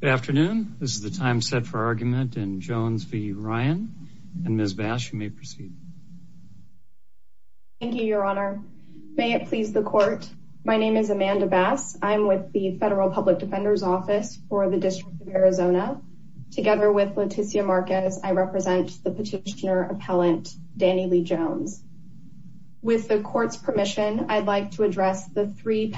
Good afternoon this is the time set for argument and Jones v. Ryan and Ms. Bass you may proceed. Thank you your honor may it please the court my name is Amanda Bass I'm with the Federal Public Defender's Office for the District of Arizona together with Leticia Marquez I represent the petitioner appellant Danny Lee Jones. With the court's permission I'd like to address the three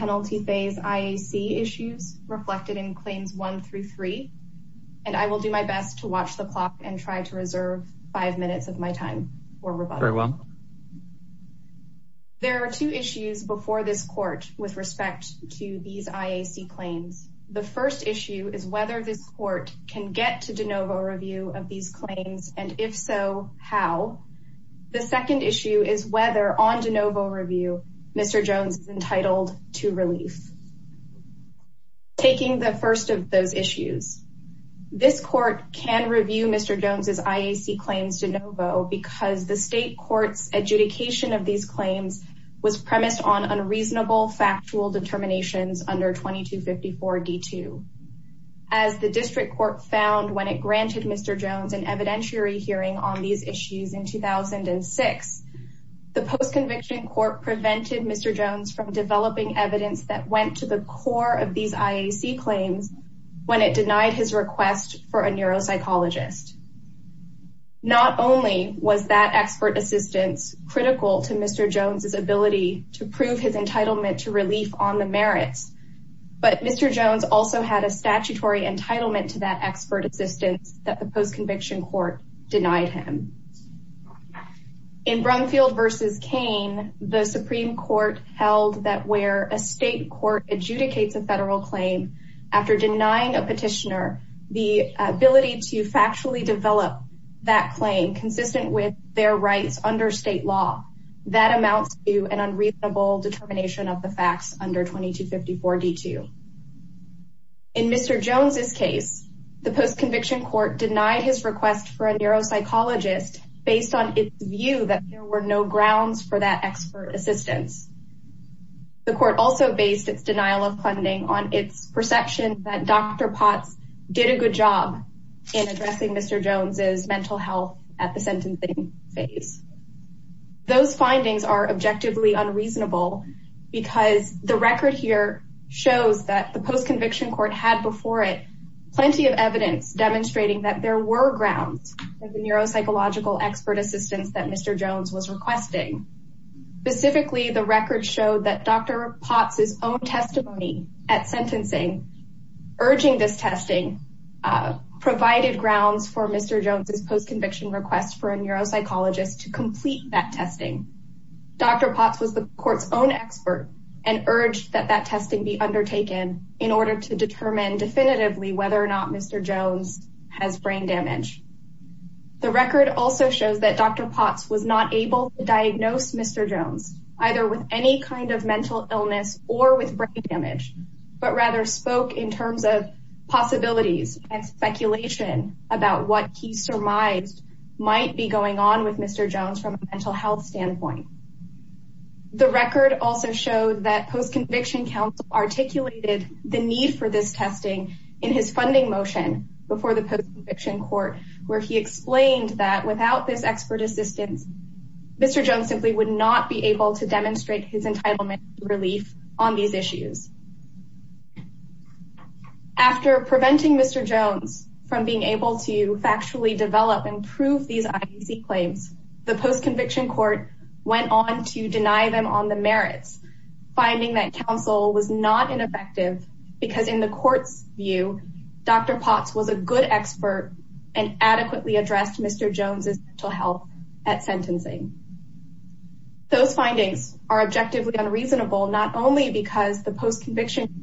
and I will do my best to watch the clock and try to reserve five minutes of my time for rebuttal. There are two issues before this court with respect to these IAC claims. The first issue is whether this court can get to de novo review of these claims and if so how. The second issue is whether on de novo review Mr. Taking the first of those issues this court can review Mr. Jones's IAC claims de novo because the state courts adjudication of these claims was premised on unreasonable factual determinations under 2254 D2. As the district court found when it granted Mr. Jones an evidentiary hearing on these issues in 2006 the post-conviction court prevented Mr. Jones from developing evidence that went to the core of these IAC claims when it denied his request for a neuropsychologist. Not only was that expert assistance critical to Mr. Jones's ability to prove his entitlement to relief on the merits but Mr. Jones also had a statutory entitlement to that expert assistance that the post conviction court denied him. In Brumfield versus Kane the Supreme Court held that where a state court adjudicates a federal claim after denying a petitioner the ability to factually develop that claim consistent with their rights under state law that amounts to an unreasonable determination of the facts under 2254 D2. In Mr. Jones's case the post conviction court denied his request for a neuropsychologist based on its view that there were no grounds for that expert assistance. The court also based its denial of funding on its perception that Dr. Potts did a good job in addressing Mr. Jones's mental health at the sentencing phase. Those findings are objectively unreasonable because the record here shows that the post conviction court had before it plenty of evidence demonstrating that there were grounds for the neuropsychological expert assistance that Mr. Jones was requesting. Specifically the record showed that Dr. Potts' own testimony at sentencing urging this testing provided grounds for Mr. Jones's post conviction request for a neuropsychologist to complete that testing. Dr. Potts was the court's own expert and urged that that testing be undertaken in order to determine definitively whether or not Mr. Jones has brain damage. The record also shows that Dr. Potts was not able to diagnose Mr. Jones either with any kind of mental illness or with brain damage, but rather spoke in terms of possibilities and speculation about what he surmised might be going on with Mr. Jones from a mental health standpoint. The record also showed that post conviction court where he explained that without this expert assistance, Mr. Jones simply would not be able to demonstrate his entitlement relief on these issues. After preventing Mr. Jones from being able to factually develop and prove these claims, the post conviction court went on to deny them on the merits, finding that counsel was not ineffective because in the court's view, Dr. Potts was a good expert and adequately addressed Mr. Jones's mental health at sentencing. Those findings are objectively unreasonable, not only because the post conviction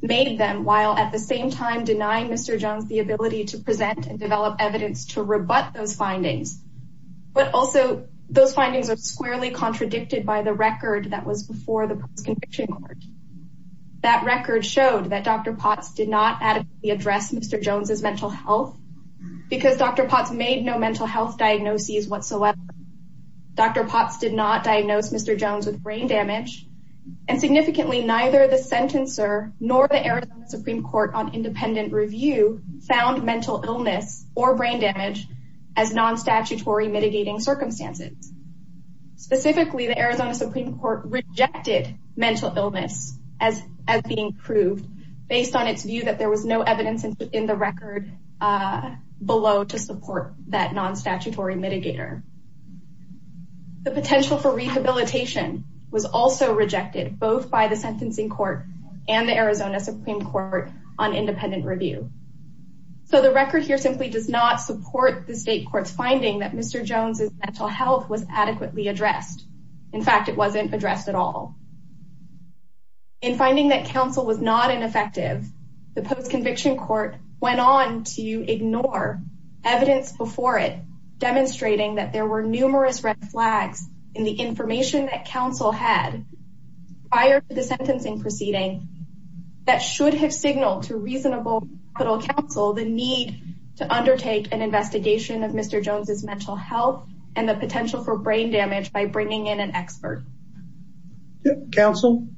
made them while at the same time denying Mr. Jones the ability to present and develop evidence to rebut those findings, but also those findings are squarely contradicted by the record that was before the post conviction court. That record showed that Dr. Potts did not adequately address Mr. Jones's mental health because Dr. Potts made no mental health diagnoses whatsoever. Dr. Potts did not diagnose Mr. Jones with brain damage and significantly neither the sentencer nor the Arizona Supreme Court on independent review found mental illness or brain damage as non statutory mitigating circumstances. Specifically, the Arizona Supreme Court rejected mental illness as being proved based on its view that there was no evidence in the record below to support that non statutory mitigator. The potential for rehabilitation was also rejected both by the sentencing court and the Arizona Supreme Court on independent review. So the record here simply does not support the state court's finding that Mr. Jones's mental health was adequately addressed. In fact, it wasn't addressed at all. In finding that counsel was not ineffective, the post conviction court went on to ignore evidence before it demonstrating that there were numerous red flags in the information that counsel had prior to the sentencing proceeding that should have signaled to reasonable counsel the need to address his mental health and the potential for brain damage by bringing in an expert. Counsel?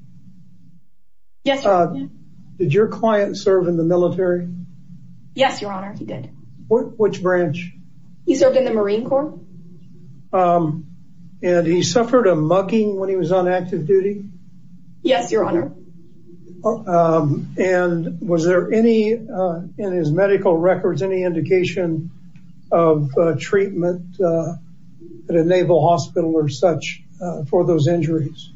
Yes. Did your client serve in the military? Yes, Your Honor, he did. Which branch? He served in the Marine Corps. And he suffered a mugging when he was on active duty? Yes, Your Honor. And was there any, in his medical records, any indication of treatment at a naval hospital or such for those injuries?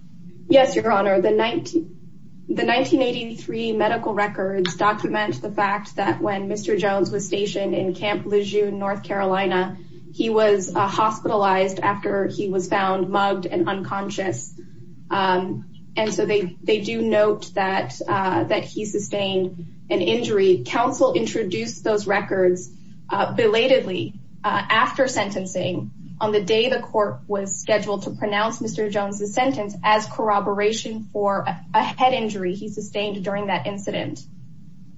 Yes, Your Honor. The 1983 medical records document the fact that when Mr. Jones was stationed in Camp Lejeune, North Carolina, he was hospitalized after he was found mugged and unconscious. And so they do note that he sustained an injury. Counsel introduced those records belatedly after sentencing on the day the court was scheduled to pronounce Mr. Jones's sentence as corroboration for a head injury he sustained during that incident.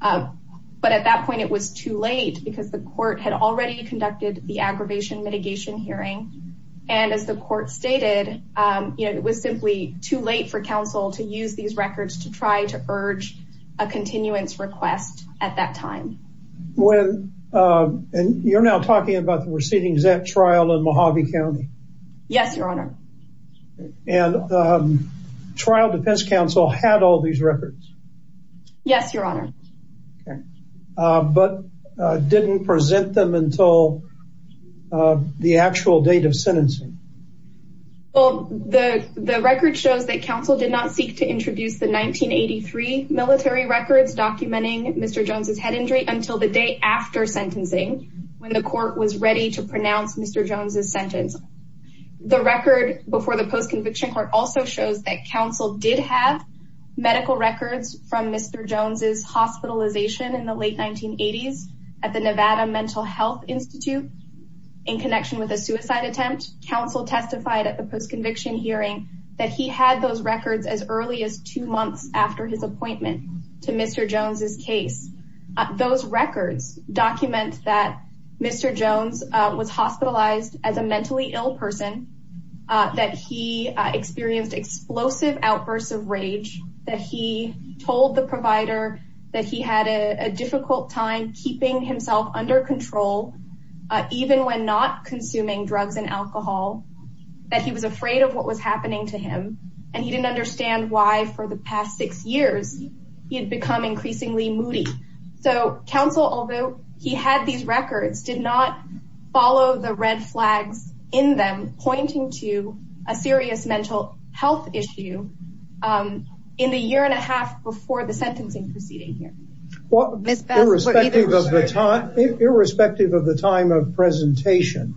But at that point, it was too late because the court had already passed a mitigation hearing. And as the court stated, you know, it was simply too late for counsel to use these records to try to urge a continuance request at that time. When, and you're now talking about the receding ZET trial in Mojave County? Yes, Your Honor. And the trial defense counsel had all these records? Yes, Your Honor. Okay. But didn't present them until the actual date of sentencing? Well, the record shows that counsel did not seek to introduce the 1983 military records documenting Mr. Jones's head injury until the day after sentencing, when the court was ready to pronounce Mr. Jones's sentence. The record before the post-conviction court also shows that counsel did have Mr. Jones's hospitalization in the late 1980s at the Nevada Mental Health Institute in connection with a suicide attempt. Counsel testified at the post-conviction hearing that he had those records as early as two months after his appointment to Mr. Jones's case. Those records document that Mr. Jones was hospitalized as a mentally ill person, that he experienced explosive outbursts of rage, that he told the provider that he had a difficult time keeping himself under control, even when not consuming drugs and alcohol, that he was afraid of what was happening to him. And he didn't understand why for the past six years, he had become increasingly moody. So counsel, although he had these records, did not follow the red flags in them in the year and a half before the sentencing proceeding here. Well, irrespective of the time of presentation,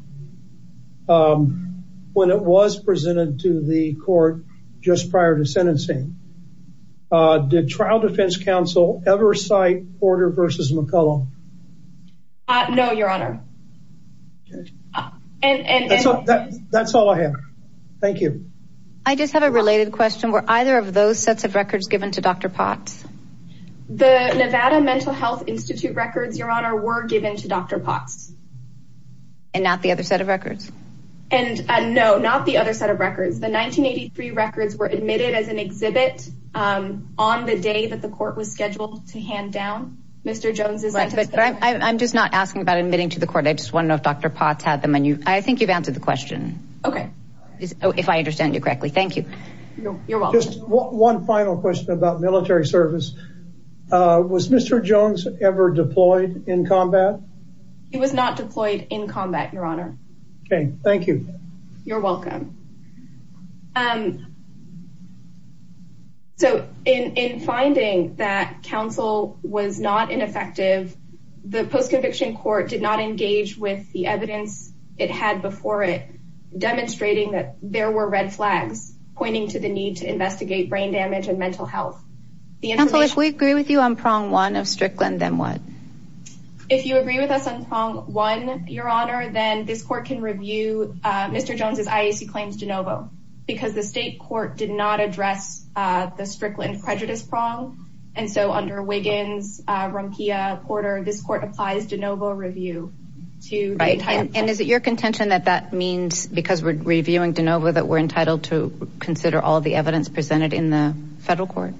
when it was presented to the court just prior to sentencing, did trial defense counsel ever cite Porter versus McCullough? No, Your Honor. And that's all I have. Thank you. I just have a related question. Were either of those sets of records given to Dr. Potts? The Nevada Mental Health Institute records, Your Honor, were given to Dr. Potts. And not the other set of records? And no, not the other set of records. The 1983 records were admitted as an exhibit on the day that the court was scheduled to hand down Mr. Jones's sentence. But I'm just not asking about admitting to the court. I just want to know if Dr. Potts had them on you. I think you've answered the question. Okay. Oh, if I understand you correctly. Thank you. You're welcome. Just one final question about military service. Was Mr. Jones ever deployed in combat? He was not deployed in combat, Your Honor. Okay. Thank you. You're welcome. So in finding that counsel was not ineffective, the post conviction court did not engage with the evidence it had before it, demonstrating that there were red flags pointing to the need to investigate brain damage and mental health. The information... If we agree with you on prong one of Strickland, then what? If you agree with us on prong one, Your Honor, then this court can review Mr. Jones's IAC claims de novo, because the state court did not address the Strickland prejudice prong. And so under Wiggins, Rumpia, Porter, this court applies de novo review to... Right. And is it your contention that that means because we're reviewing de novo that we're entitled to consider all the evidence presented in the federal court?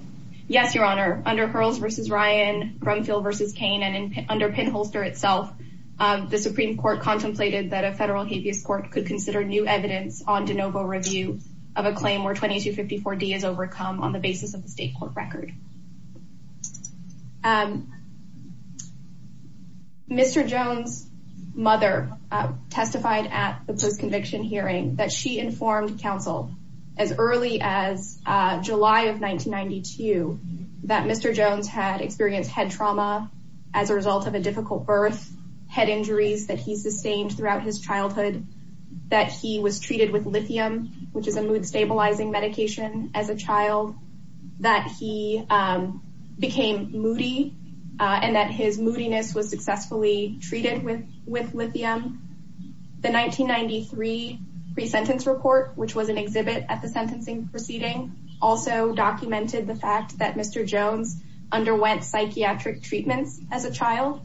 Yes, Your Honor. Under Hurls versus Ryan, Brumfield versus Kane, and under Pinholster itself, the Supreme Court contemplated that a federal habeas court could consider new evidence on de novo review of a claim where 2254D is overcome on the basis of the state court record. Mr. Jones's mother testified at the post-conviction hearing that she informed counsel as early as July of 1992 that Mr. Jones had experienced head trauma as a result of a difficult birth, head injuries that he sustained throughout his childhood, that he was treated with became moody, and that his moodiness was successfully treated with lithium. The 1993 pre-sentence report, which was an exhibit at the sentencing proceeding, also documented the fact that Mr. Jones underwent psychiatric treatments as a child.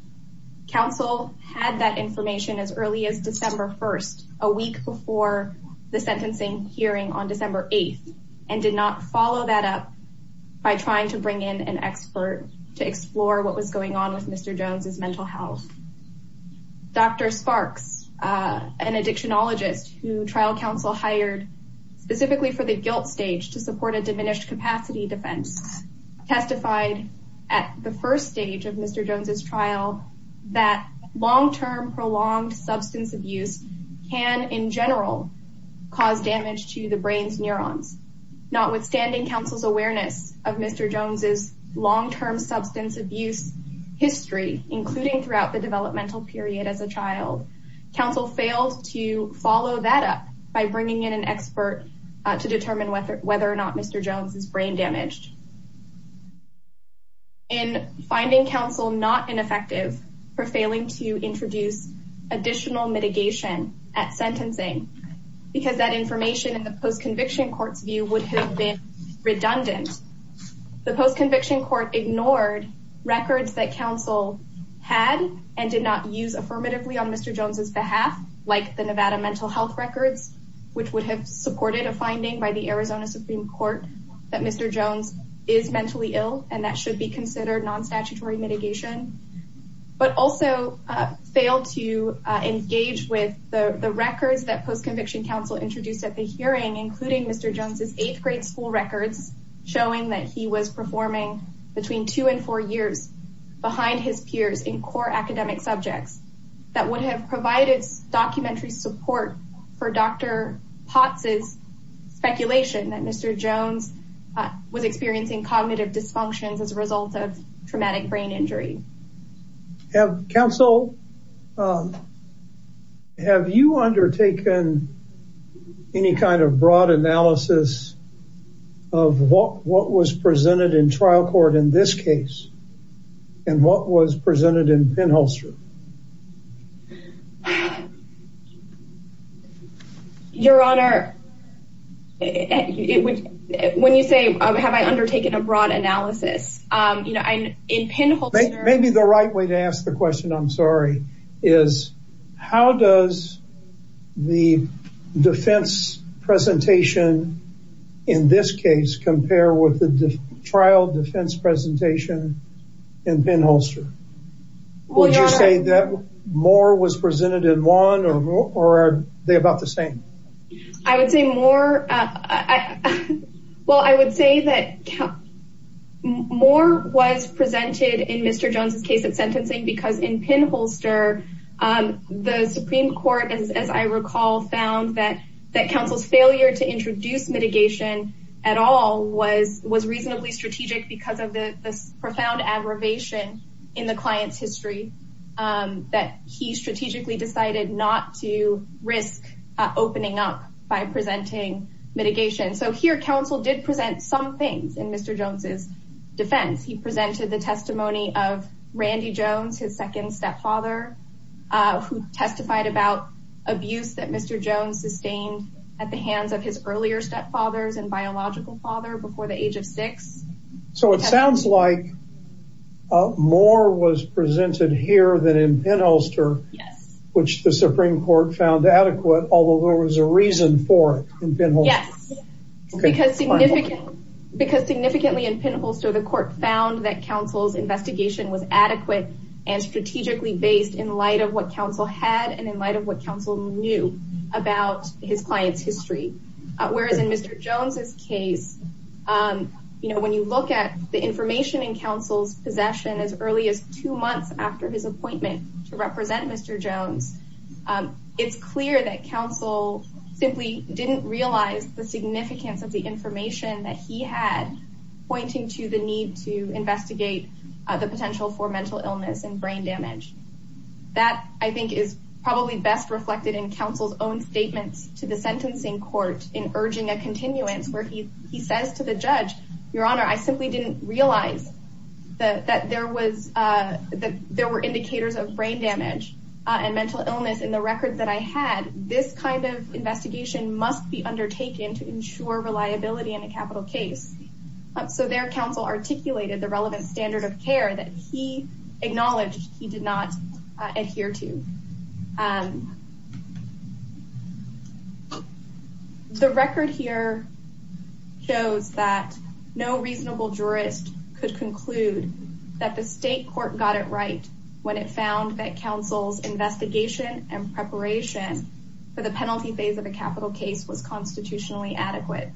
Counsel had that information as early as December 1st, a week before the sentencing hearing on December 8th, and did not follow that up by trying to get in an expert to explore what was going on with Mr. Jones's mental health. Dr. Sparks, an addictionologist who trial counsel hired specifically for the guilt stage to support a diminished capacity defense, testified at the first stage of Mr. Jones's trial that long-term prolonged substance abuse can, in general, cause damage to the brain's neurons. Notwithstanding counsel's awareness of Mr. Jones's long-term substance abuse history, including throughout the developmental period as a child, counsel failed to follow that up by bringing in an expert to determine whether or not Mr. Jones's brain damaged. In finding counsel not ineffective for failing to introduce additional mitigation at sentencing, because that information in the post-conviction court's view would have been redundant. The post-conviction court ignored records that counsel had and did not use affirmatively on Mr. Jones's behalf, like the Nevada mental health records, which would have supported a finding by the Arizona Supreme Court that Mr. Jones is mentally ill and that should be considered non-statutory mitigation, but also failed to engage with the records that post-conviction counsel introduced at the hearing, including Mr. Jones's eighth grade school records, showing that he was performing between two and four years behind his peers in core academic subjects that would have provided documentary support for Dr. Potts' speculation that Mr. Jones was experiencing cognitive dysfunctions as a result of traumatic brain injury. Have counsel, have you undertaken any kind of broad analysis of what was presented in trial court in this case and what was presented in Penn Holster? Your honor, when you say, have I undertaken a broad analysis, in Penn Holster, maybe the right way to ask the question, I'm sorry, is how does the defense presentation in this case compare with the trial defense presentation in Penn Holster? Would you say that more was presented in one or are they about the same? I would say more. Well, I would say that more was presented in Mr. Jones's case at sentencing because in Penn Holster, the Supreme Court, as I recall, found that counsel's failure to introduce mitigation at all was reasonably strategic because of the profound aggravation in the client's risk opening up by presenting mitigation. So here, counsel did present some things in Mr. Jones's defense. He presented the testimony of Randy Jones, his second stepfather, who testified about abuse that Mr. Jones sustained at the hands of his earlier stepfathers and biological father before the age of six. So it sounds like more was presented here than in Penn Holster, which the court found adequate, although there was a reason for it in Penn Holster. Yes, because significantly in Penn Holster, the court found that counsel's investigation was adequate and strategically based in light of what counsel had and in light of what counsel knew about his client's history. Whereas in Mr. Jones's case, when you look at the information in counsel's possession as early as two months after his appointment to represent Mr. Jones, it's clear that counsel simply didn't realize the significance of the information that he had pointing to the need to investigate the potential for mental illness and brain damage. That I think is probably best reflected in counsel's own statements to the sentencing court in urging a continuance where he says to the judge, your counsel's, there were indicators of brain damage and mental illness in the record that I had, this kind of investigation must be undertaken to ensure reliability in a capital case. So their counsel articulated the relevant standard of care that he acknowledged he did not adhere to. The record here shows that no reasonable jurist could conclude that the state court got it right when it found that counsel's investigation and preparation for the penalty phase of a capital case was constitutionally adequate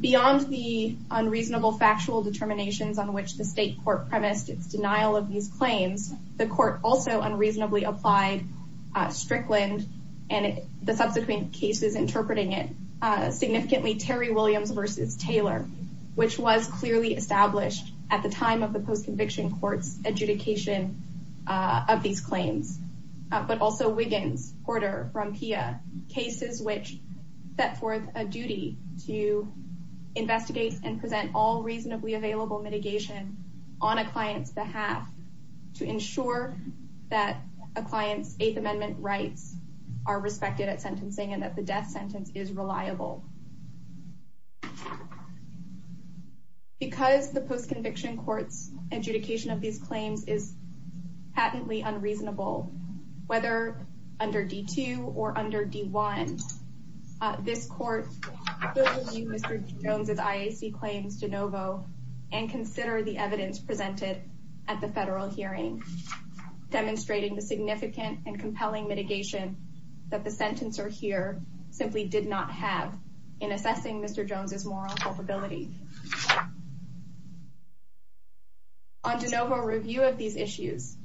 beyond the unreasonable factual determinations on which the state court premised its denial of these claims. The court also unreasonably applied Strickland and the subsequent cases interpreting it significantly Terry Williams versus Taylor, which was clearly established at the time of the post-conviction court's adjudication of these claims, but also Wiggins, Porter, Frampia, cases which set forth a duty to investigate and present all reasonably available mitigation on a client's behalf to ensure that a client's eighth amendment rights are respected at sentencing and that the death sentence is reliable. Because the post-conviction court's adjudication of these claims is patently unreasonable, whether under D2 or under D1, this court will review Mr. Jones' IAC claims de novo and consider the evidence presented at the federal hearing, demonstrating the significant and compelling mitigation that the in assessing Mr. Jones' moral culpability. On de novo review of these issues,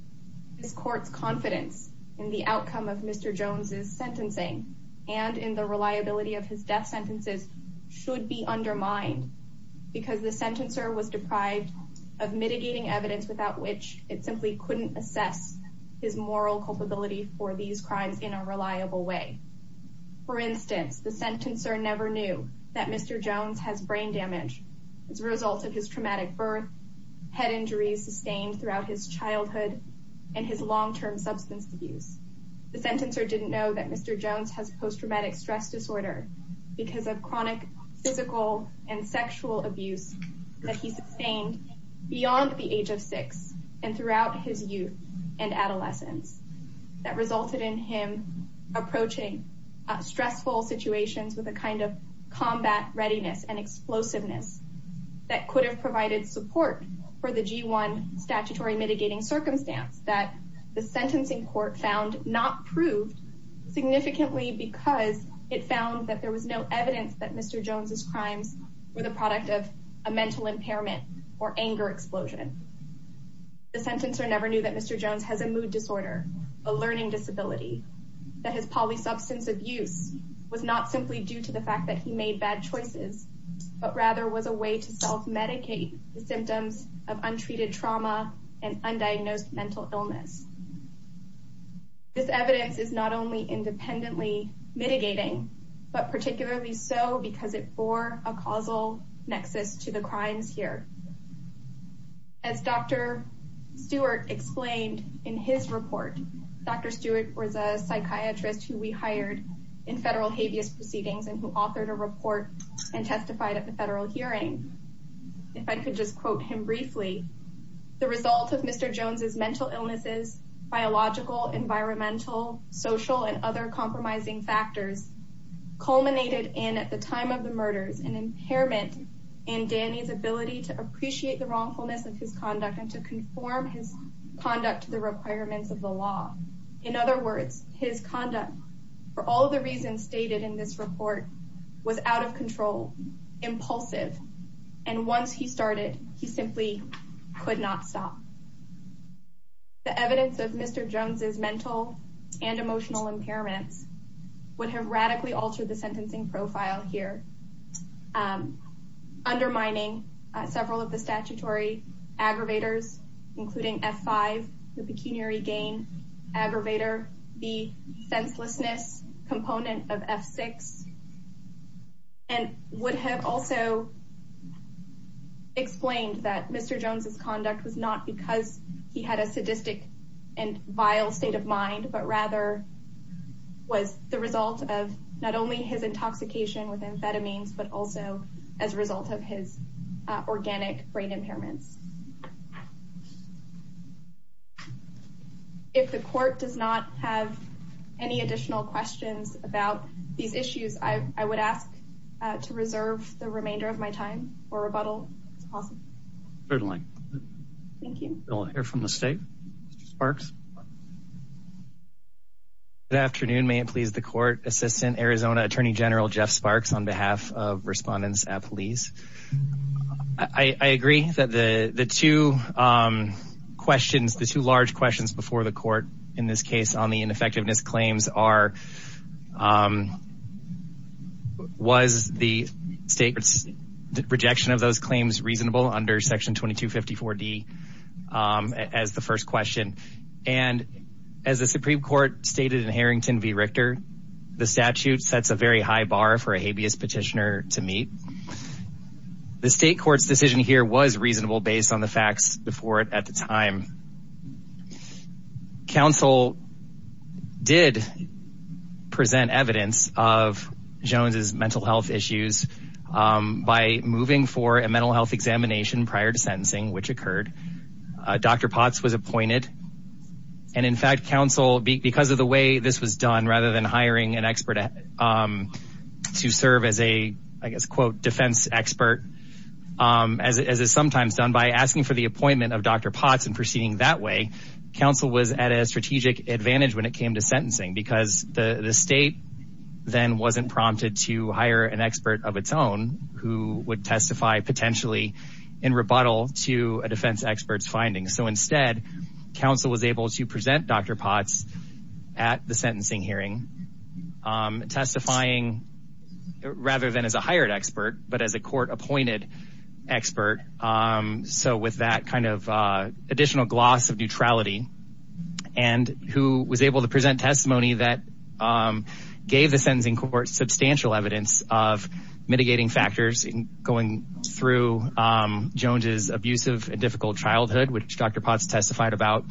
this court's confidence in the outcome of Mr. Jones' sentencing and in the reliability of his death sentences should be undermined because the sentencer was deprived of mitigating evidence without which it simply couldn't assess his moral culpability for these crimes in a reliable way. For instance, the sentencer never knew that Mr. Jones has brain damage as a result of his traumatic birth, head injuries sustained throughout his childhood, and his long-term substance abuse. The sentencer didn't know that Mr. Jones has post-traumatic stress disorder because of chronic physical and sexual abuse that he sustained beyond the age of six and throughout his youth and approaching stressful situations with a kind of combat readiness and explosiveness that could have provided support for the G1 statutory mitigating circumstance that the sentencing court found not proved significantly because it found that there was no evidence that Mr. Jones' crimes were the product of a mental impairment or anger explosion. The sentencer never knew that Mr. Jones' early substance abuse was not simply due to the fact that he made bad choices, but rather was a way to self-medicate the symptoms of untreated trauma and undiagnosed mental illness. This evidence is not only independently mitigating, but particularly so because it bore a causal nexus to the crimes here. As Dr. Stewart explained in his report, Dr. Jones was the first person to be hired in federal habeas proceedings and who authored a report and testified at the federal hearing. If I could just quote him briefly, the result of Mr. Jones' mental illnesses, biological, environmental, social, and other compromising factors culminated in, at the time of the murders, an impairment in Danny's ability to appreciate the wrongfulness of his conduct and to conform his conduct to the requirements of the law. In other words, his conduct, for all of the reasons stated in this report, was out of control, impulsive, and once he started, he simply could not stop. The evidence of Mr. Jones' mental and emotional impairments would have radically altered the sentencing profile here, undermining several of the statutory aggravators, including F-5, the pecuniary gain aggravator, the senselessness component of F-6, and would have also explained that Mr. Jones' conduct was not because he had a sadistic and vile state of mind, but rather was the result of not only his intoxication with amphetamines, but also as a result of his organic brain impairments. If the court does not have any additional questions about these issues, I would ask to reserve the remainder of my time for rebuttal, if possible. Certainly. Thank you. We'll hear from the state. Sparks. Good afternoon. May it please the court. Assistant Arizona Attorney General, Jeff Sparks, on behalf of Respondents at Police. I agree that the two questions, the two large questions before the court in this case on the ineffectiveness claims are, was the state rejection of those claims reasonable under section 2254 D as the first question. And as the Supreme court stated in Harrington v. Richter, the statute sets a very high bar for a habeas petitioner to meet. The state court's decision here was reasonable based on the facts before it at the time. Counsel did present evidence of Jones's mental health issues, um, by moving for a mental health examination prior to sentencing, which occurred, uh, Dr. Potts was appointed and in fact, counsel, because of the way this was done, rather than hiring an expert, um, to serve as a, I guess, quote defense expert, um, as, as is sometimes done by asking for the appointment of Dr. Potts and proceeding that way. Counsel was at a strategic advantage when it came to sentencing because the state. Then wasn't prompted to hire an expert of its own who would testify potentially in rebuttal to a defense experts findings. So instead counsel was able to present Dr. Potts at the sentencing hearing, um, testifying rather than as a hired expert, but as a court appointed expert. Um, so with that kind of, uh, additional gloss of neutrality and who was able to present testimony that, um, gave the sentencing court substantial evidence of mitigating factors going through, um, Jones's abusive and difficult childhood, which Dr. Potts testified about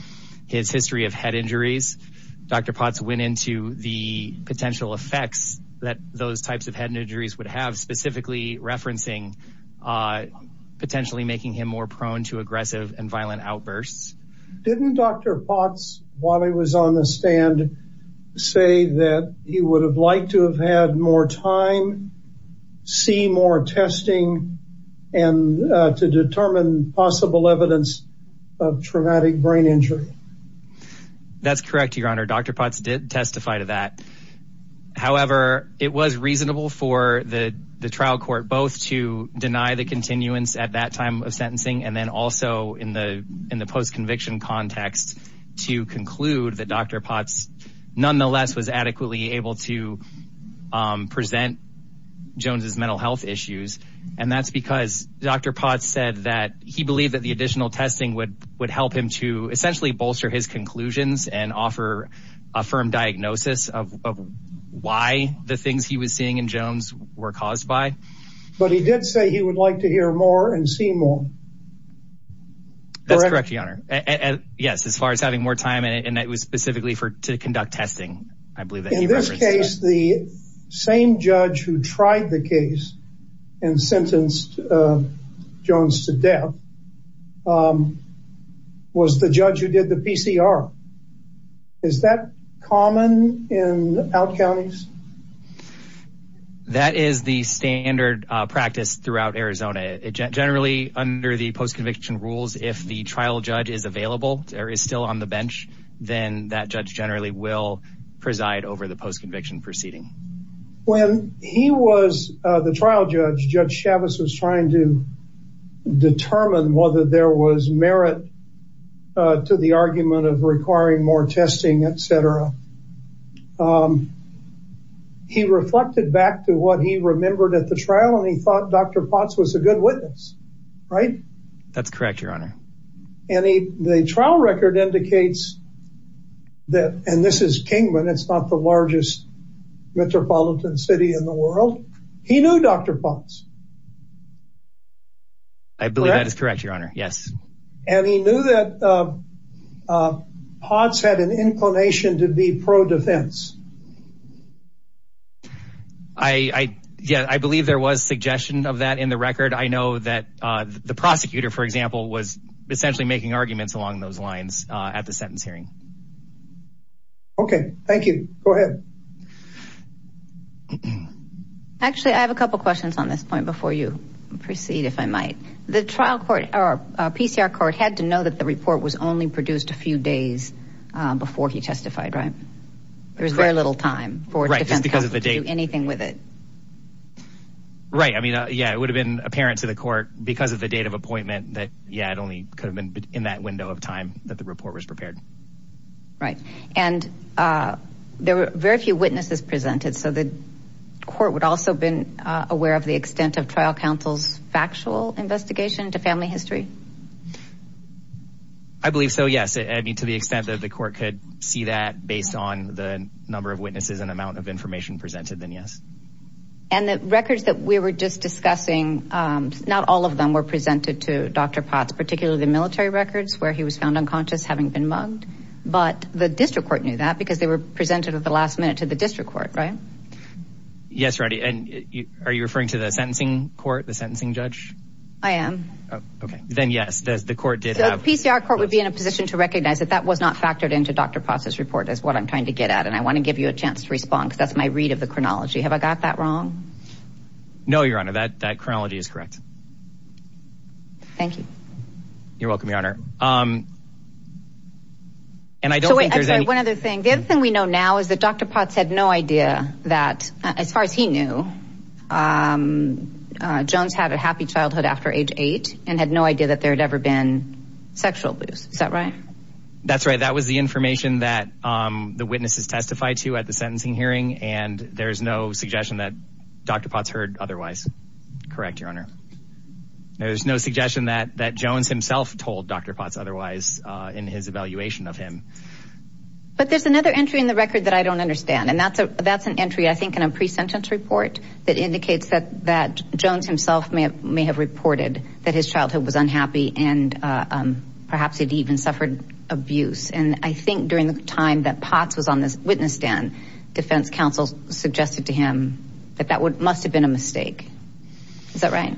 his history of head injuries, Dr. Potts went into the potential effects that those types of head injuries would have specifically referencing, uh, potentially making him more prone to aggressive and violent outbursts. Didn't Dr. Potts, while he was on the stand, say that he would have liked to have had more time, see more testing and, uh, to determine possible evidence of traumatic brain injury. That's correct. Your honor, Dr. Potts did testify to that. However, it was reasonable for the trial court, both to deny the continuance at that time of sentencing. And then also in the, in the post conviction context to conclude that Dr. able to, um, present Jones's mental health issues. And that's because Dr. Potts said that he believed that the additional testing would, would help him to essentially bolster his conclusions and offer a firm diagnosis of why the things he was seeing in Jones were caused by, but he did say he would like to hear more and see more. That's correct. Your honor. In this case, the same judge who tried the case and sentenced, uh, Jones to death, um, was the judge who did the PCR. Is that common in out counties? That is the standard practice throughout Arizona. Generally under the post conviction rules, if the trial judge is available or is still on the bench, then that judge generally will preside over the post conviction proceeding. When he was, uh, the trial judge, Judge Chavez was trying to determine whether there was merit, uh, to the argument of requiring more testing, et cetera, um, he reflected back to what he remembered at the trial. And he thought Dr. Potts was a good witness, right? That's correct. Your honor. And he, the trial record indicates that, and this is Kingman, it's not the largest metropolitan city in the world. He knew Dr. Potts. I believe that is correct. Your honor. Yes. And he knew that, uh, uh, Potts had an inclination to be pro defense. I, I, yeah, I believe there was suggestion of that in the record. I know that, uh, the prosecutor, for example, was essentially making arguments along those lines, uh, at the sentence hearing. Okay. Thank you. Go ahead. Actually, I have a couple of questions on this point before you proceed, if I might. The trial court, or PCR court had to know that the report was only produced a few days, uh, before he testified, right? There was very little time for defense counsel to do anything with it. Right. I mean, uh, yeah, it would have been apparent to the court because of the date of appointment that, yeah, it only could have been in that window of time that the report was prepared. Right. And, uh, there were very few witnesses presented. So the court would also been aware of the extent of trial counsel's factual investigation to family history. I believe so. Yes. I mean, to the extent that the court could see that based on the number of witnesses and amount of information presented, then yes. And the records that we were just discussing, um, not all of them were presented to Dr. Potts, particularly the military records where he was found unconscious, having been mugged, but the district court knew that because they were presented at the last minute to the district court. Right. Yes. Right. And are you referring to the sentencing court, the sentencing judge? I am. Oh, okay. Then yes. Does the court did have PCR court would be in a position to recognize that that was not factored into Dr. Potts's report is what I'm trying to get at. And I want to give you a chance to respond because that's my read of the chronology. Have I got that wrong? No, your honor. That, that chronology is correct. Thank you. You're welcome. Your honor. Um, and I don't think there's one other thing. The other thing we know now is that Dr. Potts had no idea that as far as he knew, um, uh, Jones had a happy childhood after age eight and had no idea that there had ever been sexual abuse. Is that right? That's right. That was the information that, um, the witnesses testified to at the suggestion that Dr. Potts heard otherwise correct. Your honor. There was no suggestion that, that Jones himself told Dr. Potts otherwise, uh, in his evaluation of him. But there's another entry in the record that I don't understand. And that's a, that's an entry, I think, in a pre-sentence report that indicates that, that Jones himself may have, may have reported that his childhood was unhappy and, uh, um, perhaps he'd even suffered abuse. And I think during the time that Potts was on this witness stand, defense counsel suggested to him that that would, must have been a mistake. Is that right?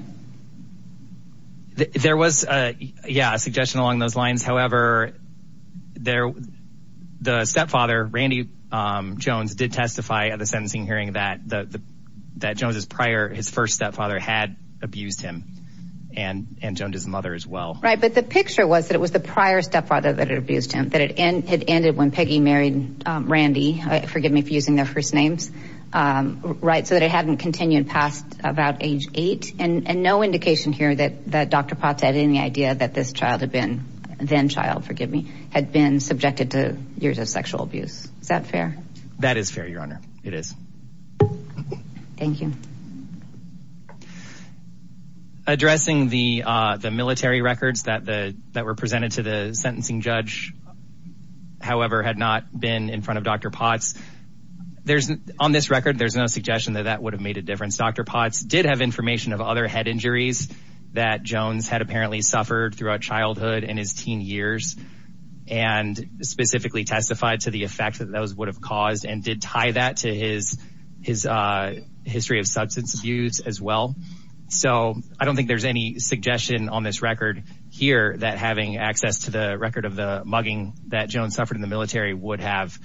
There was a, yeah, a suggestion along those lines. However, there, the stepfather, Randy, um, Jones did testify at the sentencing hearing that the, that Jones's prior, his first stepfather had abused him and, and Jones's mother as well. Right. But the picture was that it was the prior stepfather that had abused him, that it had ended when Peggy married, um, Randy, forgive me for using their first names, um, right. So that it hadn't continued past about age eight and no indication here that, that Dr. Potts had any idea that this child had been, then child, forgive me, had been subjected to years of sexual abuse. Is that fair? That is fair, Your Honor. It is. Thank you. Addressing the, uh, the military records that the, that were presented to the sentencing judge, however, had not been in front of Dr. Potts, there's on this record, there's no suggestion that that would have made a difference. Dr. Potts did have information of other head injuries that Jones had apparently suffered throughout childhood and his teen years and specifically testified to the effect that those would have caused and did tie that to his, his, uh, history of substance abuse as well. So I don't think there's any suggestion on this record here that having access to the record of the mugging that Jones suffered in the military would have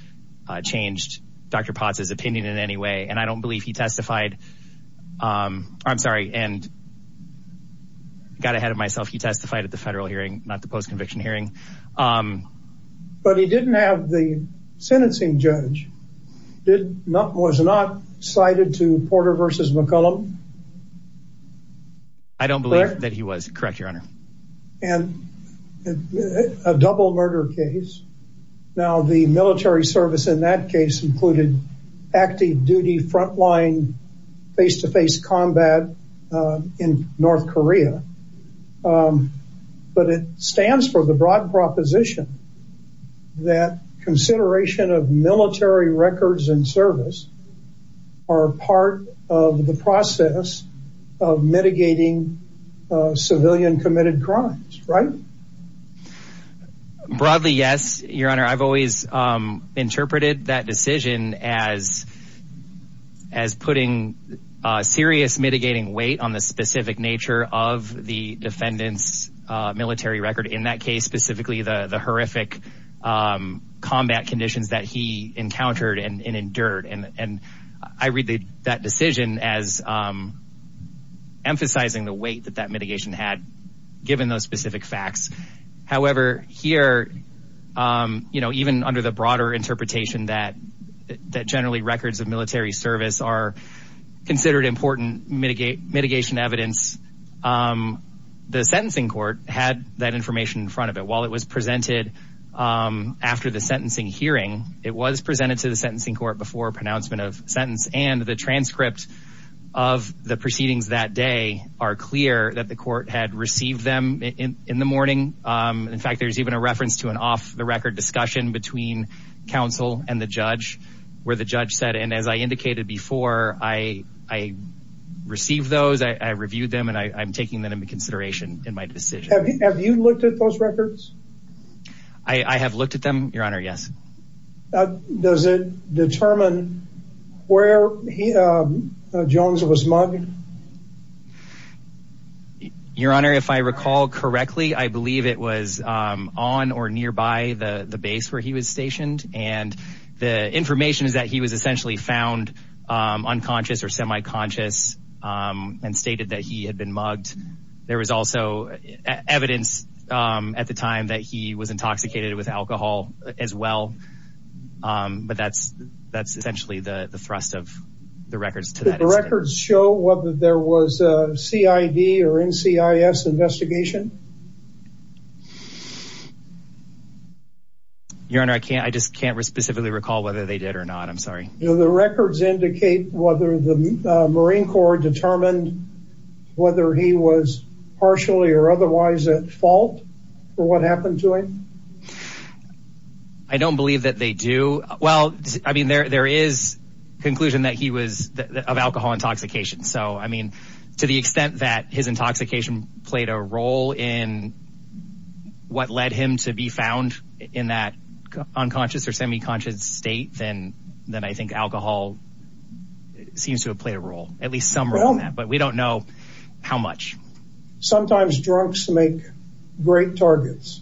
changed Dr. Potts's opinion in any way. And I don't believe he testified. Um, I'm sorry. And I got ahead of myself. He testified at the federal hearing, not the post-conviction hearing. Um, But he didn't have the sentencing judge. Did not, was not cited to Porter versus McCollum? I don't believe that he was correct, Your Honor. And a double murder case. Now the military service in that case included active duty, frontline, face-to-face combat, uh, in North Korea. Um, but it stands for the broad proposition that consideration of military records and service are part of the process of mitigating, uh, civilian committed crimes, right? Broadly. Yes, Your Honor. I've always, um, interpreted that decision as, as putting a serious mitigating weight on the specific nature of the defendant's, uh, military record in that case, specifically the, the horrific, um, combat conditions that he encountered and endured. And, and I read that decision as, um, emphasizing the weight that that given those specific facts, however, here, um, you know, even under the broader interpretation that, that generally records of military service are considered important mitigate mitigation evidence, um, the sentencing court had that information in front of it while it was presented, um, after the sentencing hearing, it was presented to the sentencing court before pronouncement of sentence and the transcript of the proceedings that day are clear that the court had received them in, in the morning. Um, in fact, there's even a reference to an off the record discussion between counsel and the judge where the judge said, and as I indicated before, I, I received those, I reviewed them and I I'm taking them into consideration in my decision. Have you looked at those records? I have looked at them, Your Honor. Yes. Uh, does it determine where he, uh, Jones was mugged? Your Honor, if I recall correctly, I believe it was, um, on or nearby the base where he was stationed. And the information is that he was essentially found, um, unconscious or semi-conscious, um, and stated that he had been mugged. There was also evidence, um, at the time that he was intoxicated with alcohol as well. Um, but that's, that's essentially the thrust of the records. Did the records show whether there was a CID or NCIS investigation? Your Honor, I can't, I just can't specifically recall whether they did or not. I'm sorry. Do the records indicate whether the Marine Corps determined whether he was partially or otherwise at fault for what happened to him? I don't believe that they do. Well, I mean, there, there is conclusion that he was of alcohol intoxication. So, I mean, to the extent that his intoxication played a role in what led him to be found in that unconscious or semi-conscious state, then, then I think alcohol seems to have played a role, at least some role in that, but we don't know how much. Sometimes drunks make great targets.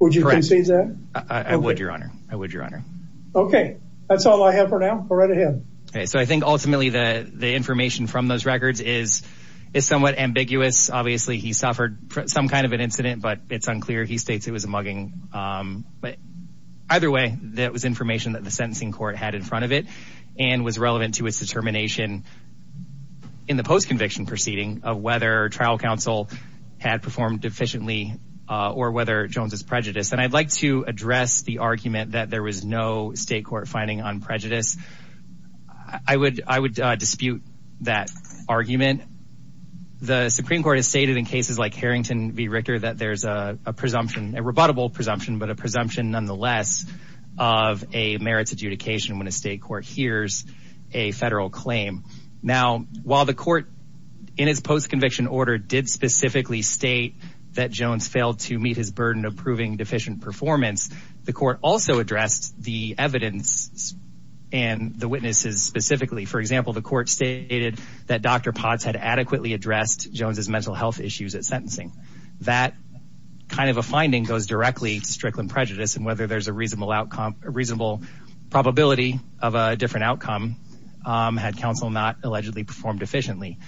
Would you concede that? I would, Your Honor. I would, Your Honor. Okay. That's all I have for now. Go right ahead. Okay. So I think ultimately the, the information from those records is, is somewhat ambiguous. Obviously he suffered some kind of an incident, but it's unclear. He states it was a mugging. Um, but either way, that was information that the sentencing court had in front of it and was relevant to its determination in the post-conviction proceeding of whether trial counsel had performed efficiently, uh, or whether Jones is prejudiced. And I'd like to address the argument that there was no state court finding on prejudice. I would, I would, uh, dispute that argument. The Supreme court has stated in cases like Harrington v. Richter, that there's a presumption, a rebuttable presumption, but a presumption nonetheless of a merits adjudication when a state court hears a federal claim now, while the court in his post-conviction order did specifically state that Jones failed to meet his burden of proving deficient performance. The court also addressed the evidence and the witnesses specifically, for example, the court stated that Dr. Potts had adequately addressed Jones's mental health issues at sentencing. That kind of a finding goes directly to Strickland prejudice and whether there's a reasonable outcome, a reasonable probability of a different outcome, um, had counsel not allegedly performed efficiently.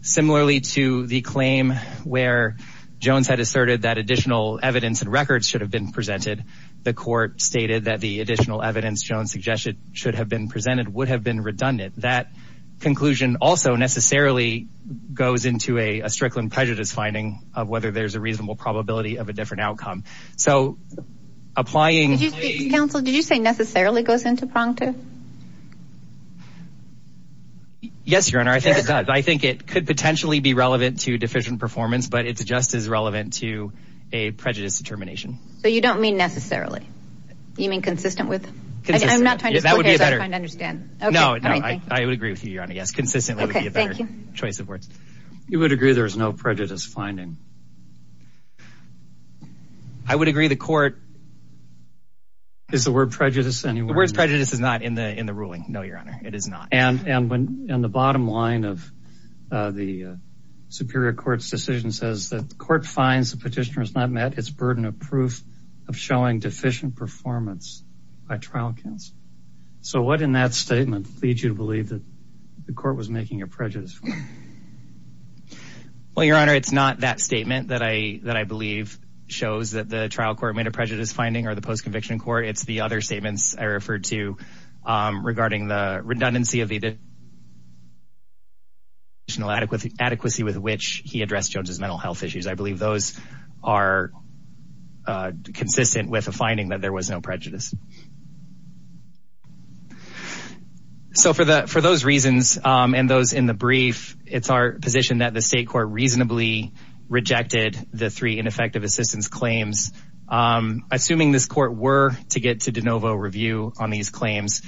Similarly to the claim where Jones had asserted that additional evidence and records should have been presented. The court stated that the additional evidence Jones suggested should have been presented would have been redundant. That conclusion also necessarily goes into a, a Strickland prejudice finding of whether there's a reasonable probability of a different outcome. So applying, counsel, did you say necessarily goes into prongtive? Yes, your honor. I think it does. I think it could potentially be relevant to deficient performance, but it's just as relevant to a prejudice determination. So you don't mean necessarily, you mean consistent with, I'm not trying to, I'm trying to understand. No, I would agree with you, your honor. Yes. Consistently would be a better choice of words. You would agree there was no prejudice finding. I would agree the court is the word prejudice and the words prejudice is not in the, in the ruling. No, your honor. It is not. And, and when, and the bottom line of the superior court's decision says that the court finds the petitioner has not met his burden of proof of showing deficient performance by trial counsel. So what in that statement leads you to believe that the court was making a prejudice? Well, your honor, it's not that statement that I, that I believe shows that the trial court made a prejudice finding or the post-conviction court. It's the other statements I referred to regarding the redundancy of the adequacy with which he addressed Jones's mental health issues. I believe those are consistent with a finding that there was no prejudice. So for the, for those reasons and those in the brief, it's our position that the state court reasonably rejected the three ineffective assistance claims. Assuming this court were to get to de novo review on these claims,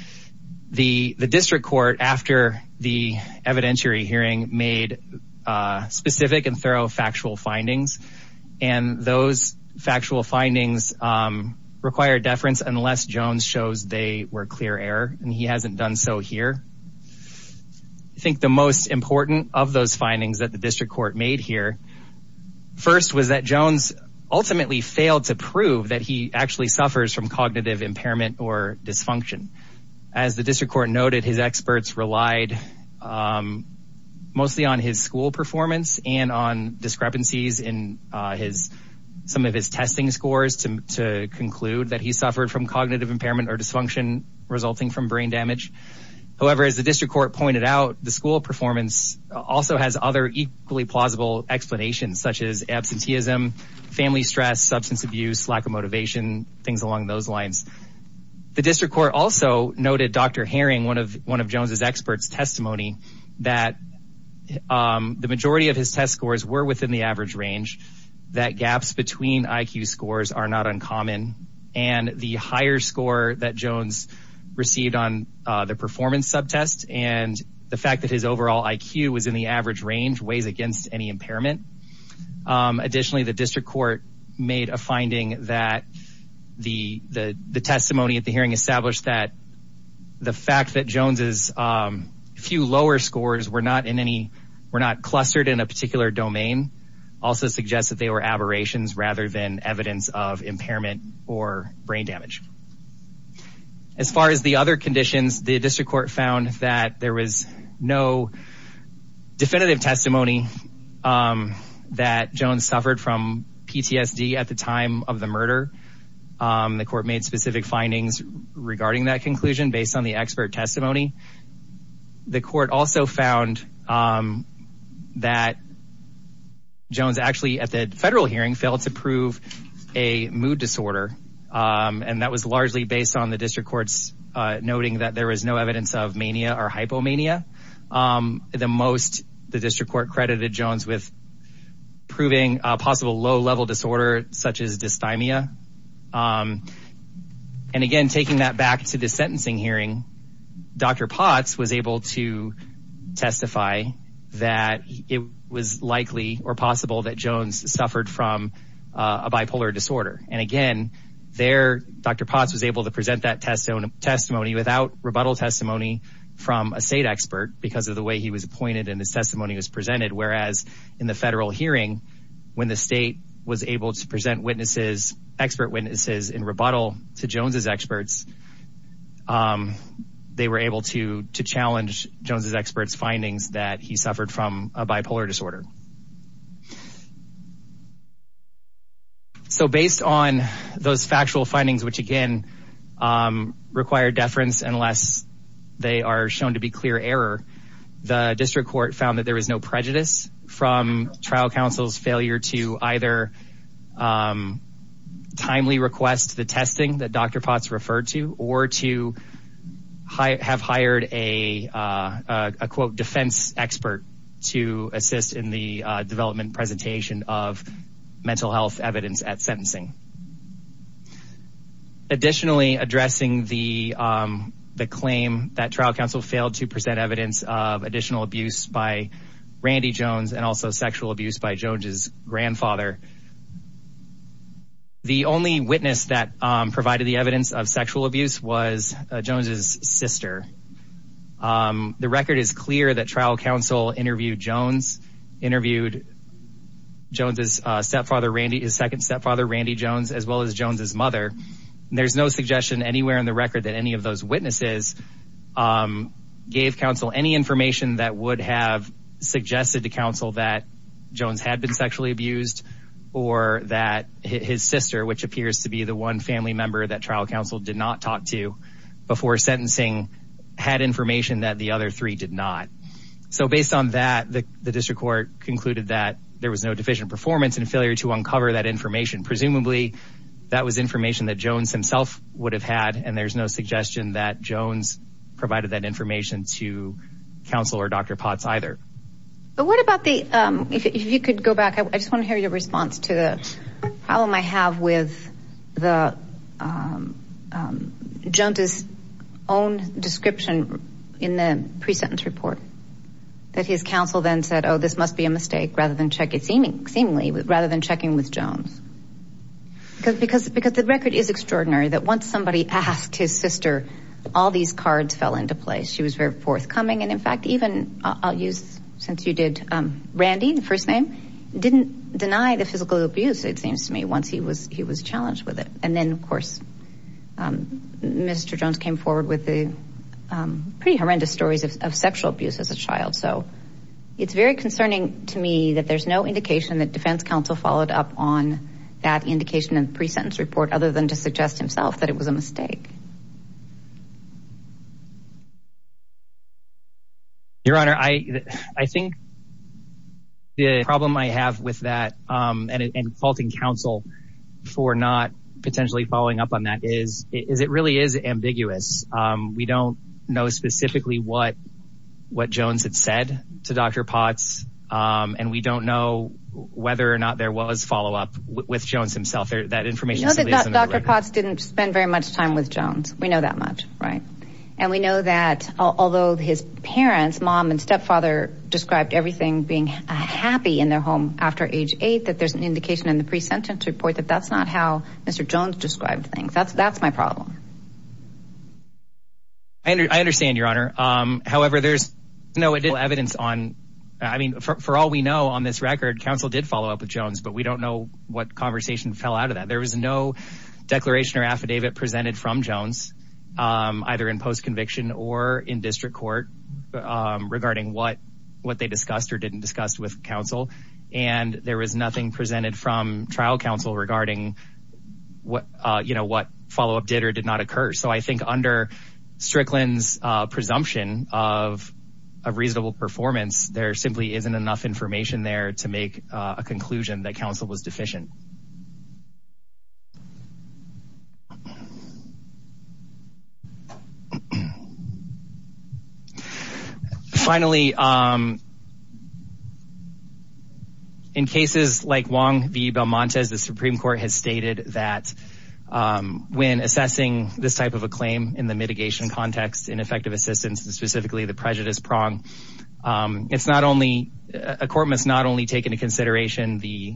the, the district court, after the evidentiary hearing made a specific and thorough factual findings and those factual findings require deference unless Jones shows they were clear error and he hasn't done so here, I think the most important of those findings that the district court made here first was that it failed to prove that he actually suffers from cognitive impairment or dysfunction as the district court noted, his experts relied mostly on his school performance and on discrepancies in his, some of his testing scores to, to conclude that he suffered from cognitive impairment or dysfunction resulting from brain damage. However, as the district court pointed out, the school performance also has other equally plausible explanations, such as absenteeism, family stress, substance abuse, lack of motivation, things along those lines. The district court also noted Dr. Herring, one of, one of Jones's experts testimony that the majority of his test scores were within the average range, that gaps between IQ scores are not uncommon and the higher score that Jones received on the performance subtest and the fact that his overall IQ was in the average range weighs against any impairment. Additionally, the district court made a finding that the, the, the testimony at the hearing established that the fact that Jones's few lower scores were not in any, were not clustered in a particular domain also suggests that they were aberrations rather than evidence of impairment or brain damage. As far as the other conditions, the district court found that there was no definitive testimony that Jones suffered from PTSD at the time of the murder. The court made specific findings regarding that conclusion based on the expert testimony. The court also found that Jones actually at the federal hearing failed to prove a mood disorder. And that was largely based on the district courts noting that there was no evidence of mania or hypomania. The most, the district court credited Jones with proving a possible low level disorder such as dysthymia. And again, taking that back to the sentencing hearing, Dr. Potts was able to testify that it was likely or possible that Jones suffered from a bipolar disorder. And again, there Dr. Potts was able to present that testimony without rebuttal testimony from a state expert because of the way he was appointed and his testimony was presented. Whereas in the federal hearing, when the state was able to present witnesses, expert witnesses in rebuttal to Jones's experts, they were able to challenge Jones's experts findings that he suffered from a bipolar disorder. So based on those factual findings, which again, required deference, unless they are shown to be clear error, the district court found that there was no prejudice from trial counsel's failure to either timely request the testing that Dr. Potts referred to, or to have hired a, a quote defense expert to assist in the development presentation of mental health evidence at sentencing. Additionally, addressing the, the claim that trial counsel failed to present evidence of additional abuse by Randy Jones and also sexual abuse by Jones's grandfather. The only witness that provided the evidence of sexual abuse was Jones's sister. The record is clear that trial counsel interviewed Jones, interviewed Jones's stepfather, Randy, his second stepfather, Randy Jones, as well as Jones's mother. And there's no suggestion anywhere in the record that any of those witnesses gave counsel any information that would have suggested to counsel that Jones had been sexually abused or that his sister, which appears to be the one family member that trial counsel did not talk to before sentencing, had information that the other three did not. So based on that, the district court concluded that there was no deficient performance and failure to uncover that information, presumably that was information that Jones himself would have had, and there's no suggestion that Jones provided that information to counsel or Dr. Potts either. But what about the, if you could go back, I just want to hear your um, um, Jones's own description in the pre-sentence report that his counsel then said, oh, this must be a mistake rather than check it. Seemingly, rather than checking with Jones, because, because, because the record is extraordinary. That once somebody asked his sister, all these cards fell into place. She was very forthcoming. And in fact, even I'll use, since you did, um, Randy, the first name didn't deny the physical abuse. It seems to me once he was, he was challenged with it. And then of course, um, Mr. Jones came forward with the, um, pretty horrendous stories of sexual abuse as a child. So it's very concerning to me that there's no indication that defense counsel followed up on that indication and pre-sentence report, other than to suggest himself that it was a mistake. Your honor. I, I think the problem I have with that, um, and, and faulting counsel for not potentially following up on that is, is it really is ambiguous. Um, we don't know specifically what, what Jones had said to Dr. Potts. Um, and we don't know whether or not there was follow-up with Jones himself. There that information. Dr. Potts didn't spend very much time with Jones. We know that much. Right. And we know that although his parents, mom and stepfather described everything being happy in their home after age eight, that there's an indication in the pre-sentence report that that's not how Mr. Jones described things. That's, that's my problem. I under, I understand your honor. Um, however, there's no evidence on, I mean, for, for all we know on this record, counsel did follow up with Jones, but we don't know what conversation fell out of that. There was no declaration or affidavit presented from Jones, um, either in post-conviction or in district court, um, regarding what, what they discussed or didn't discuss with counsel. And there was nothing presented from trial counsel regarding what, uh, you know, what follow-up did or did not occur. So I think under Strickland's, uh, presumption of a reasonable performance, there simply isn't enough information there to make a conclusion that counsel was deficient. Finally, um, in cases like Wong v. Belmontes, the Supreme court has stated that, um, when assessing this type of a claim in the mitigation context, in effective assistance, and specifically the prejudice prong, um, it's not only, a court must not only take into account the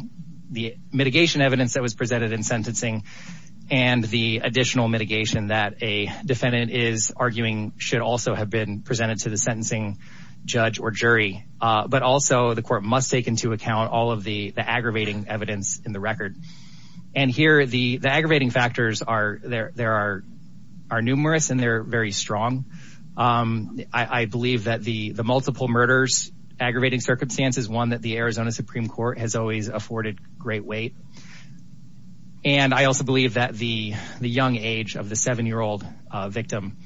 mitigation evidence that was presented in sentencing and the additional mitigation that a defendant is arguing should also have been presented to the sentencing judge or jury. Uh, but also the court must take into account all of the, the aggravating evidence in the record. And here the, the aggravating factors are there, there are, are numerous and they're very strong. Um, I, I believe that the, the multiple murders, aggravating circumstances, one that the Arizona Supreme court has always afforded great weight. And I also believe that the, the young age of the seven-year-old, uh, victim,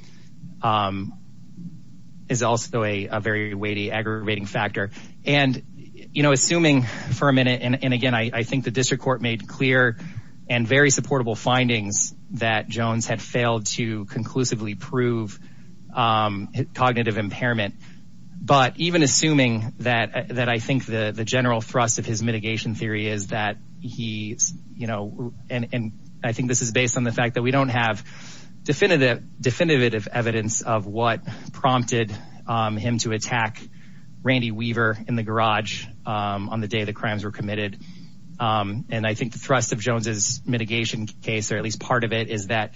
um, is also a very weighty aggravating factor and, you know, assuming for a minute, and again, I think the district court made clear and very supportable findings that Jones had failed to conclusively prove, um, cognitive impairment, but even assuming that, that I think the general thrust of his you know, and, and I think this is based on the fact that we don't have definitive, definitive evidence of what prompted, um, him to attack Randy Weaver in the garage, um, on the day the crimes were committed. Um, and I think the thrust of Jones's mitigation case, or at least part of it is that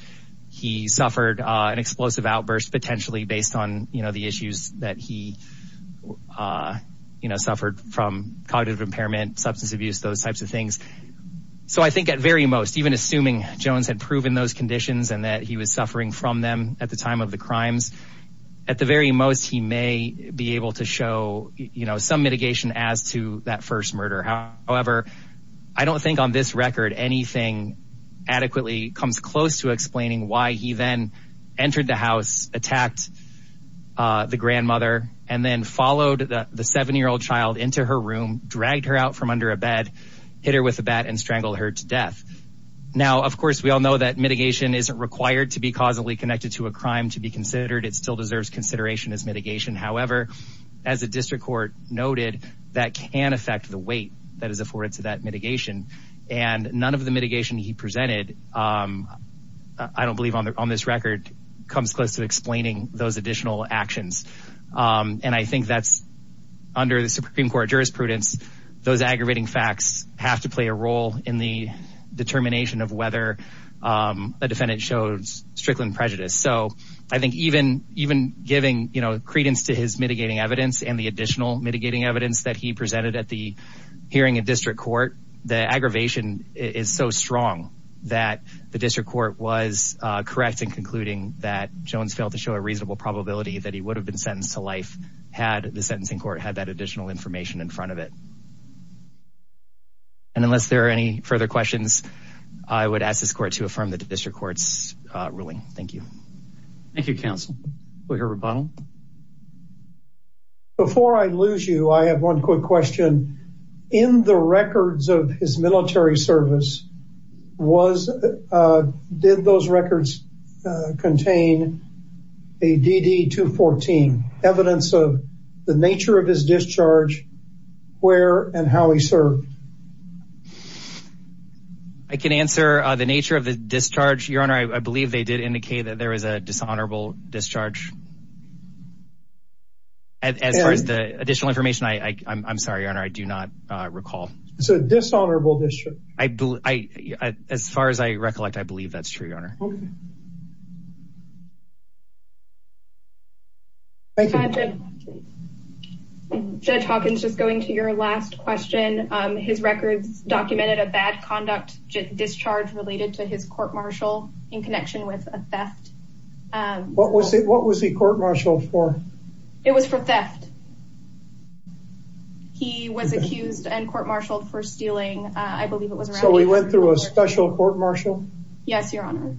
he suffered, uh, an explosive outburst potentially based on, you know, the issues that he, uh, you know, suffered from cognitive impairment, substance abuse, those types of things. So I think at very most, even assuming Jones had proven those conditions and that he was suffering from them at the time of the crimes, at the very most, he may be able to show, you know, some mitigation as to that first murder. However, I don't think on this record, anything adequately comes close to explaining why he then entered the house, attacked, uh, the grandmother, and then followed the seven-year-old child into her room, dragged her out from under a bed, hit her with a bat and strangled her to death. Now, of course, we all know that mitigation isn't required to be causally connected to a crime to be considered. It still deserves consideration as mitigation. However, as a district court noted, that can affect the weight that is afforded to that mitigation. And none of the mitigation he presented, um, I don't believe on the, on this record comes close to explaining those additional actions. Um, and I think that's under the Supreme Court jurisprudence, those aggravating facts have to play a role in the determination of whether, um, a defendant shows strickland prejudice. So I think even, even giving, you know, credence to his mitigating evidence and the additional mitigating evidence that he presented at the hearing at district court, the aggravation is so strong that the district court was, uh, correct in concluding that Jones failed to show a reasonable probability that he would have been sentenced to life had the sentencing court had that additional information in front of it. And unless there are any further questions, I would ask this court to affirm the district court's, uh, ruling. Thank you. Thank you, counsel. We'll hear from Ronald. Before I lose you, I have one quick question. In the records of his military service, was, uh, did those records, uh, contain a DD 214 evidence of the nature of his discharge, where and how he served? I can answer, uh, the nature of the discharge, your honor. I believe they did indicate that there was a dishonorable discharge. As far as the additional information, I, I I'm sorry, your honor. I do not recall. It's a dishonorable discharge. I believe, I, as far as I recollect, I believe that's true, your honor. Okay. Thank you. Judge Hawkins, just going to your last question, um, his records documented a bad conduct discharge related to his court-martial in connection with a theft. Um, what was it, what was he court-martialed for? It was for theft. He was accused and court-martialed for stealing. Uh, I believe it was around. So he went through a special court-martial? Yes, your honor.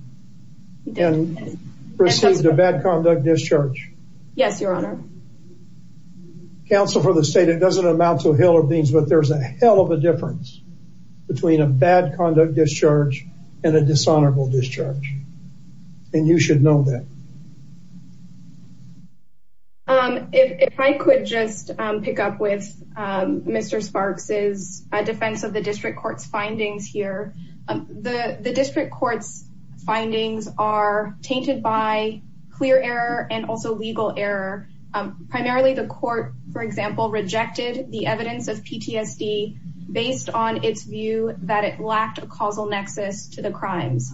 And received a bad conduct discharge? Yes, your honor. Counsel for the state, it doesn't amount to a hill of beans, but there's a hell of a difference between a bad conduct discharge and a dishonorable discharge. And you should know that. Um, if I could just, um, pick up with, um, Mr. Sparks' defense of the district court's findings here. The district court's findings are tainted by clear error and also legal error. Um, primarily the court, for example, rejected the evidence of PTSD based on its view that it lacked a causal nexus to the crimes,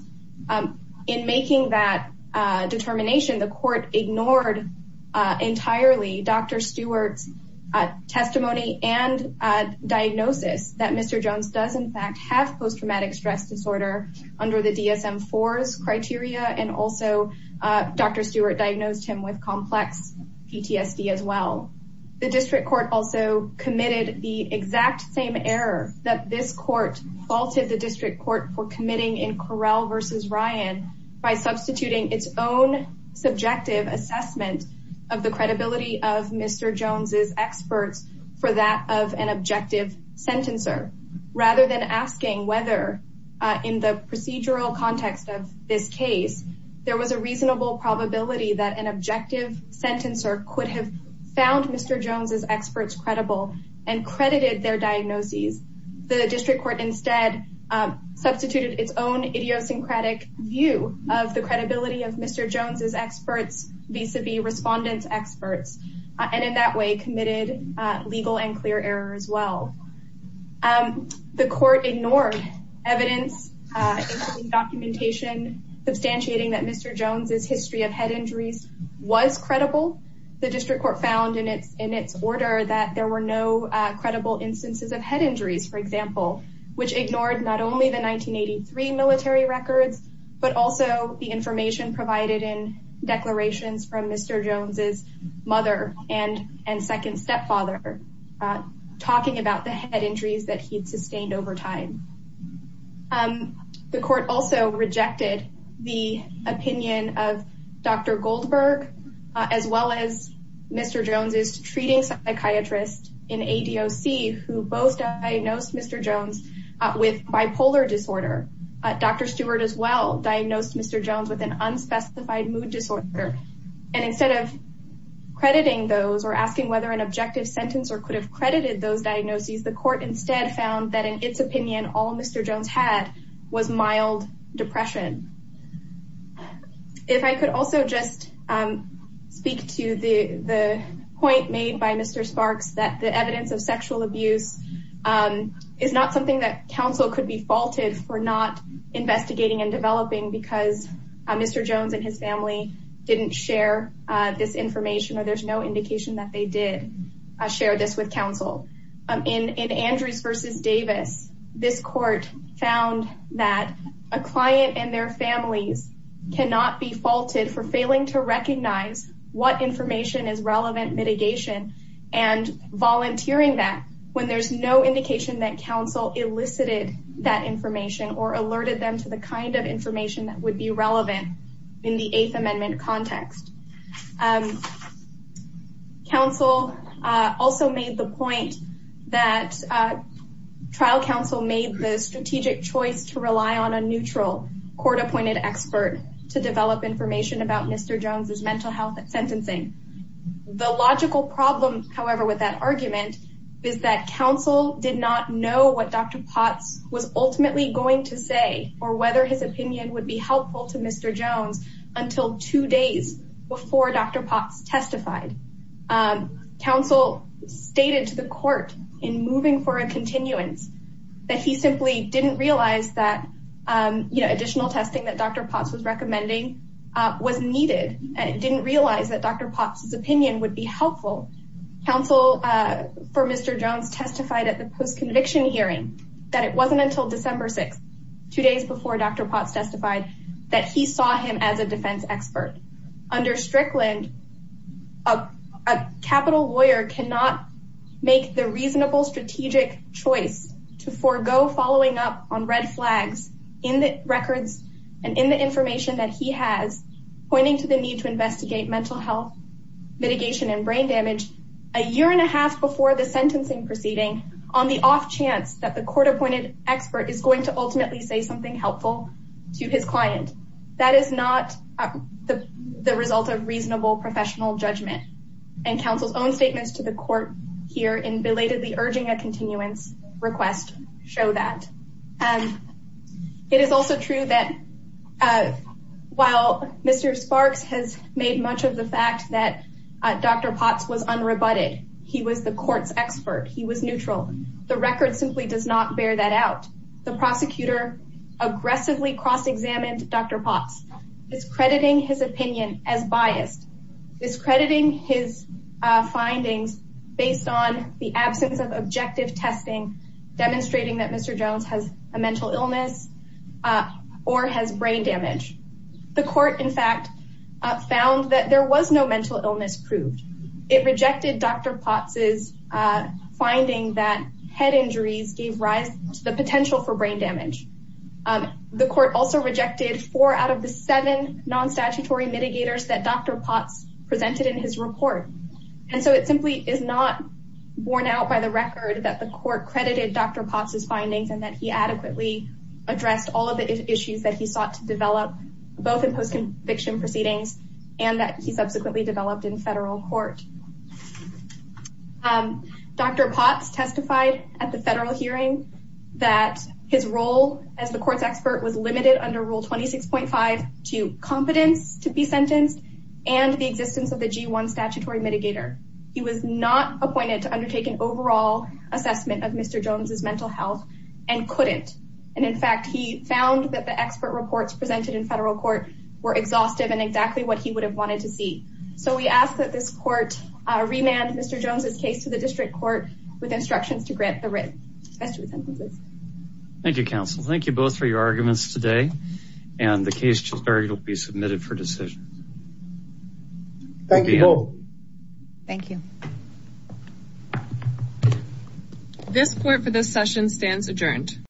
um, in making that, uh, determination, the court ignored, uh, entirely Dr. Stewart's, uh, testimony and, uh, diagnosis that Mr. Jones had post-traumatic stress disorder under the DSM-IV's criteria. And also, uh, Dr. Stewart diagnosed him with complex PTSD as well. The district court also committed the exact same error that this court faulted the district court for committing in Correll versus Ryan by substituting its own subjective assessment of the credibility of Mr. Jones' experts for that of an objective sentencer. Rather than asking whether, uh, in the procedural context of this case, there was a reasonable probability that an objective sentencer could have found Mr. Jones' experts credible and credited their diagnoses, the district court instead, um, substituted its own idiosyncratic view of the credibility of Mr. Jones' experts vis-a-vis respondents' experts, uh, and in that way committed, uh, legal and clear error as well. Um, the court ignored evidence, uh, documentation substantiating that Mr. Jones' history of head injuries was credible. The district court found in its, in its order that there were no, uh, credible instances of head injuries, for example, which ignored not only the 1983 military records, but also the information provided in declarations from Mr. Jones' stepfather, uh, talking about the head injuries that he'd sustained over time. Um, the court also rejected the opinion of Dr. Goldberg, uh, as well as Mr. Jones' treating psychiatrist in ADOC, who both diagnosed Mr. Jones, uh, with bipolar disorder. Uh, Dr. Stewart as well diagnosed Mr. Jones with an unspecified mood disorder. And instead of crediting those or asking whether an objective sentence or could have credited those diagnoses, the court instead found that in its opinion, all Mr. Jones had was mild depression. If I could also just, um, speak to the, the point made by Mr. Sparks, that the evidence of sexual abuse, um, is not something that council could be sharing. Uh, there's no indication that they did, uh, share this with council, um, in, in Andrews versus Davis, this court found that a client and their families cannot be faulted for failing to recognize what information is relevant mitigation and volunteering that when there's no indication that council elicited that information or alerted them to the kind of information that would be relevant in the safe amendment context, um, council, uh, also made the point that, uh, trial council made the strategic choice to rely on a neutral court appointed expert to develop information about Mr. Jones's mental health at sentencing. The logical problem, however, with that argument is that council did not know what Dr. Potts was ultimately going to say, or whether his opinion would be helpful to Mr. Jones until two days before Dr. Potts testified. Um, council stated to the court in moving for a continuance that he simply didn't realize that, um, you know, additional testing that Dr. Potts was recommending, uh, was needed and didn't realize that Dr. Potts's opinion would be helpful. Council, uh, for Mr. Jones testified at the post conviction hearing that it wasn't until December two days before Dr. Potts testified that he saw him as a defense expert. Under Strickland, a capital lawyer cannot make the reasonable strategic choice to forego following up on red flags in the records and in the information that he has pointing to the need to investigate mental health mitigation and brain damage a year and a half before the sentencing proceeding on the off chance that the court appointed expert is going to ultimately say something helpful to his client. That is not the result of reasonable professional judgment and council's own statements to the court here in belatedly urging a continuance request show that. Um, it is also true that, uh, while Mr. Sparks has made much of the fact that Dr. Potts was unrebutted, he was the court's expert. He was neutral. The record simply does not bear that out. The prosecutor aggressively cross-examined Dr. Potts, discrediting his opinion as biased, discrediting his findings based on the absence of objective testing, demonstrating that Mr. Jones has a mental illness, uh, or has brain damage. The court in fact, uh, found that there was no mental illness proved. It rejected Dr. Potts' finding that head injuries gave rise to the potential for brain damage. Um, the court also rejected four out of the seven non-statutory mitigators that Dr. Potts presented in his report. And so it simply is not worn out by the record that the court credited Dr. Potts' findings and that he adequately addressed all of the issues that he sought to develop both in post-conviction proceedings and that he subsequently developed in federal court. Um, Dr. Potts testified at the federal hearing that his role as the court's expert was limited under rule 26.5 to competence to be sentenced and the existence of the G1 statutory mitigator. He was not appointed to undertake an overall assessment of Mr. Jones' mental health and couldn't. And in fact, he found that the expert reports presented in federal court were exhaustive and exactly what he would have wanted to see. So we ask that this court, uh, remand Mr. Jones' case to the district court with instructions to grant the writ. Thank you, counsel. Thank you both for your arguments today and the case will be submitted for decisions. Thank you. Thank you. This court for this session stands adjourned.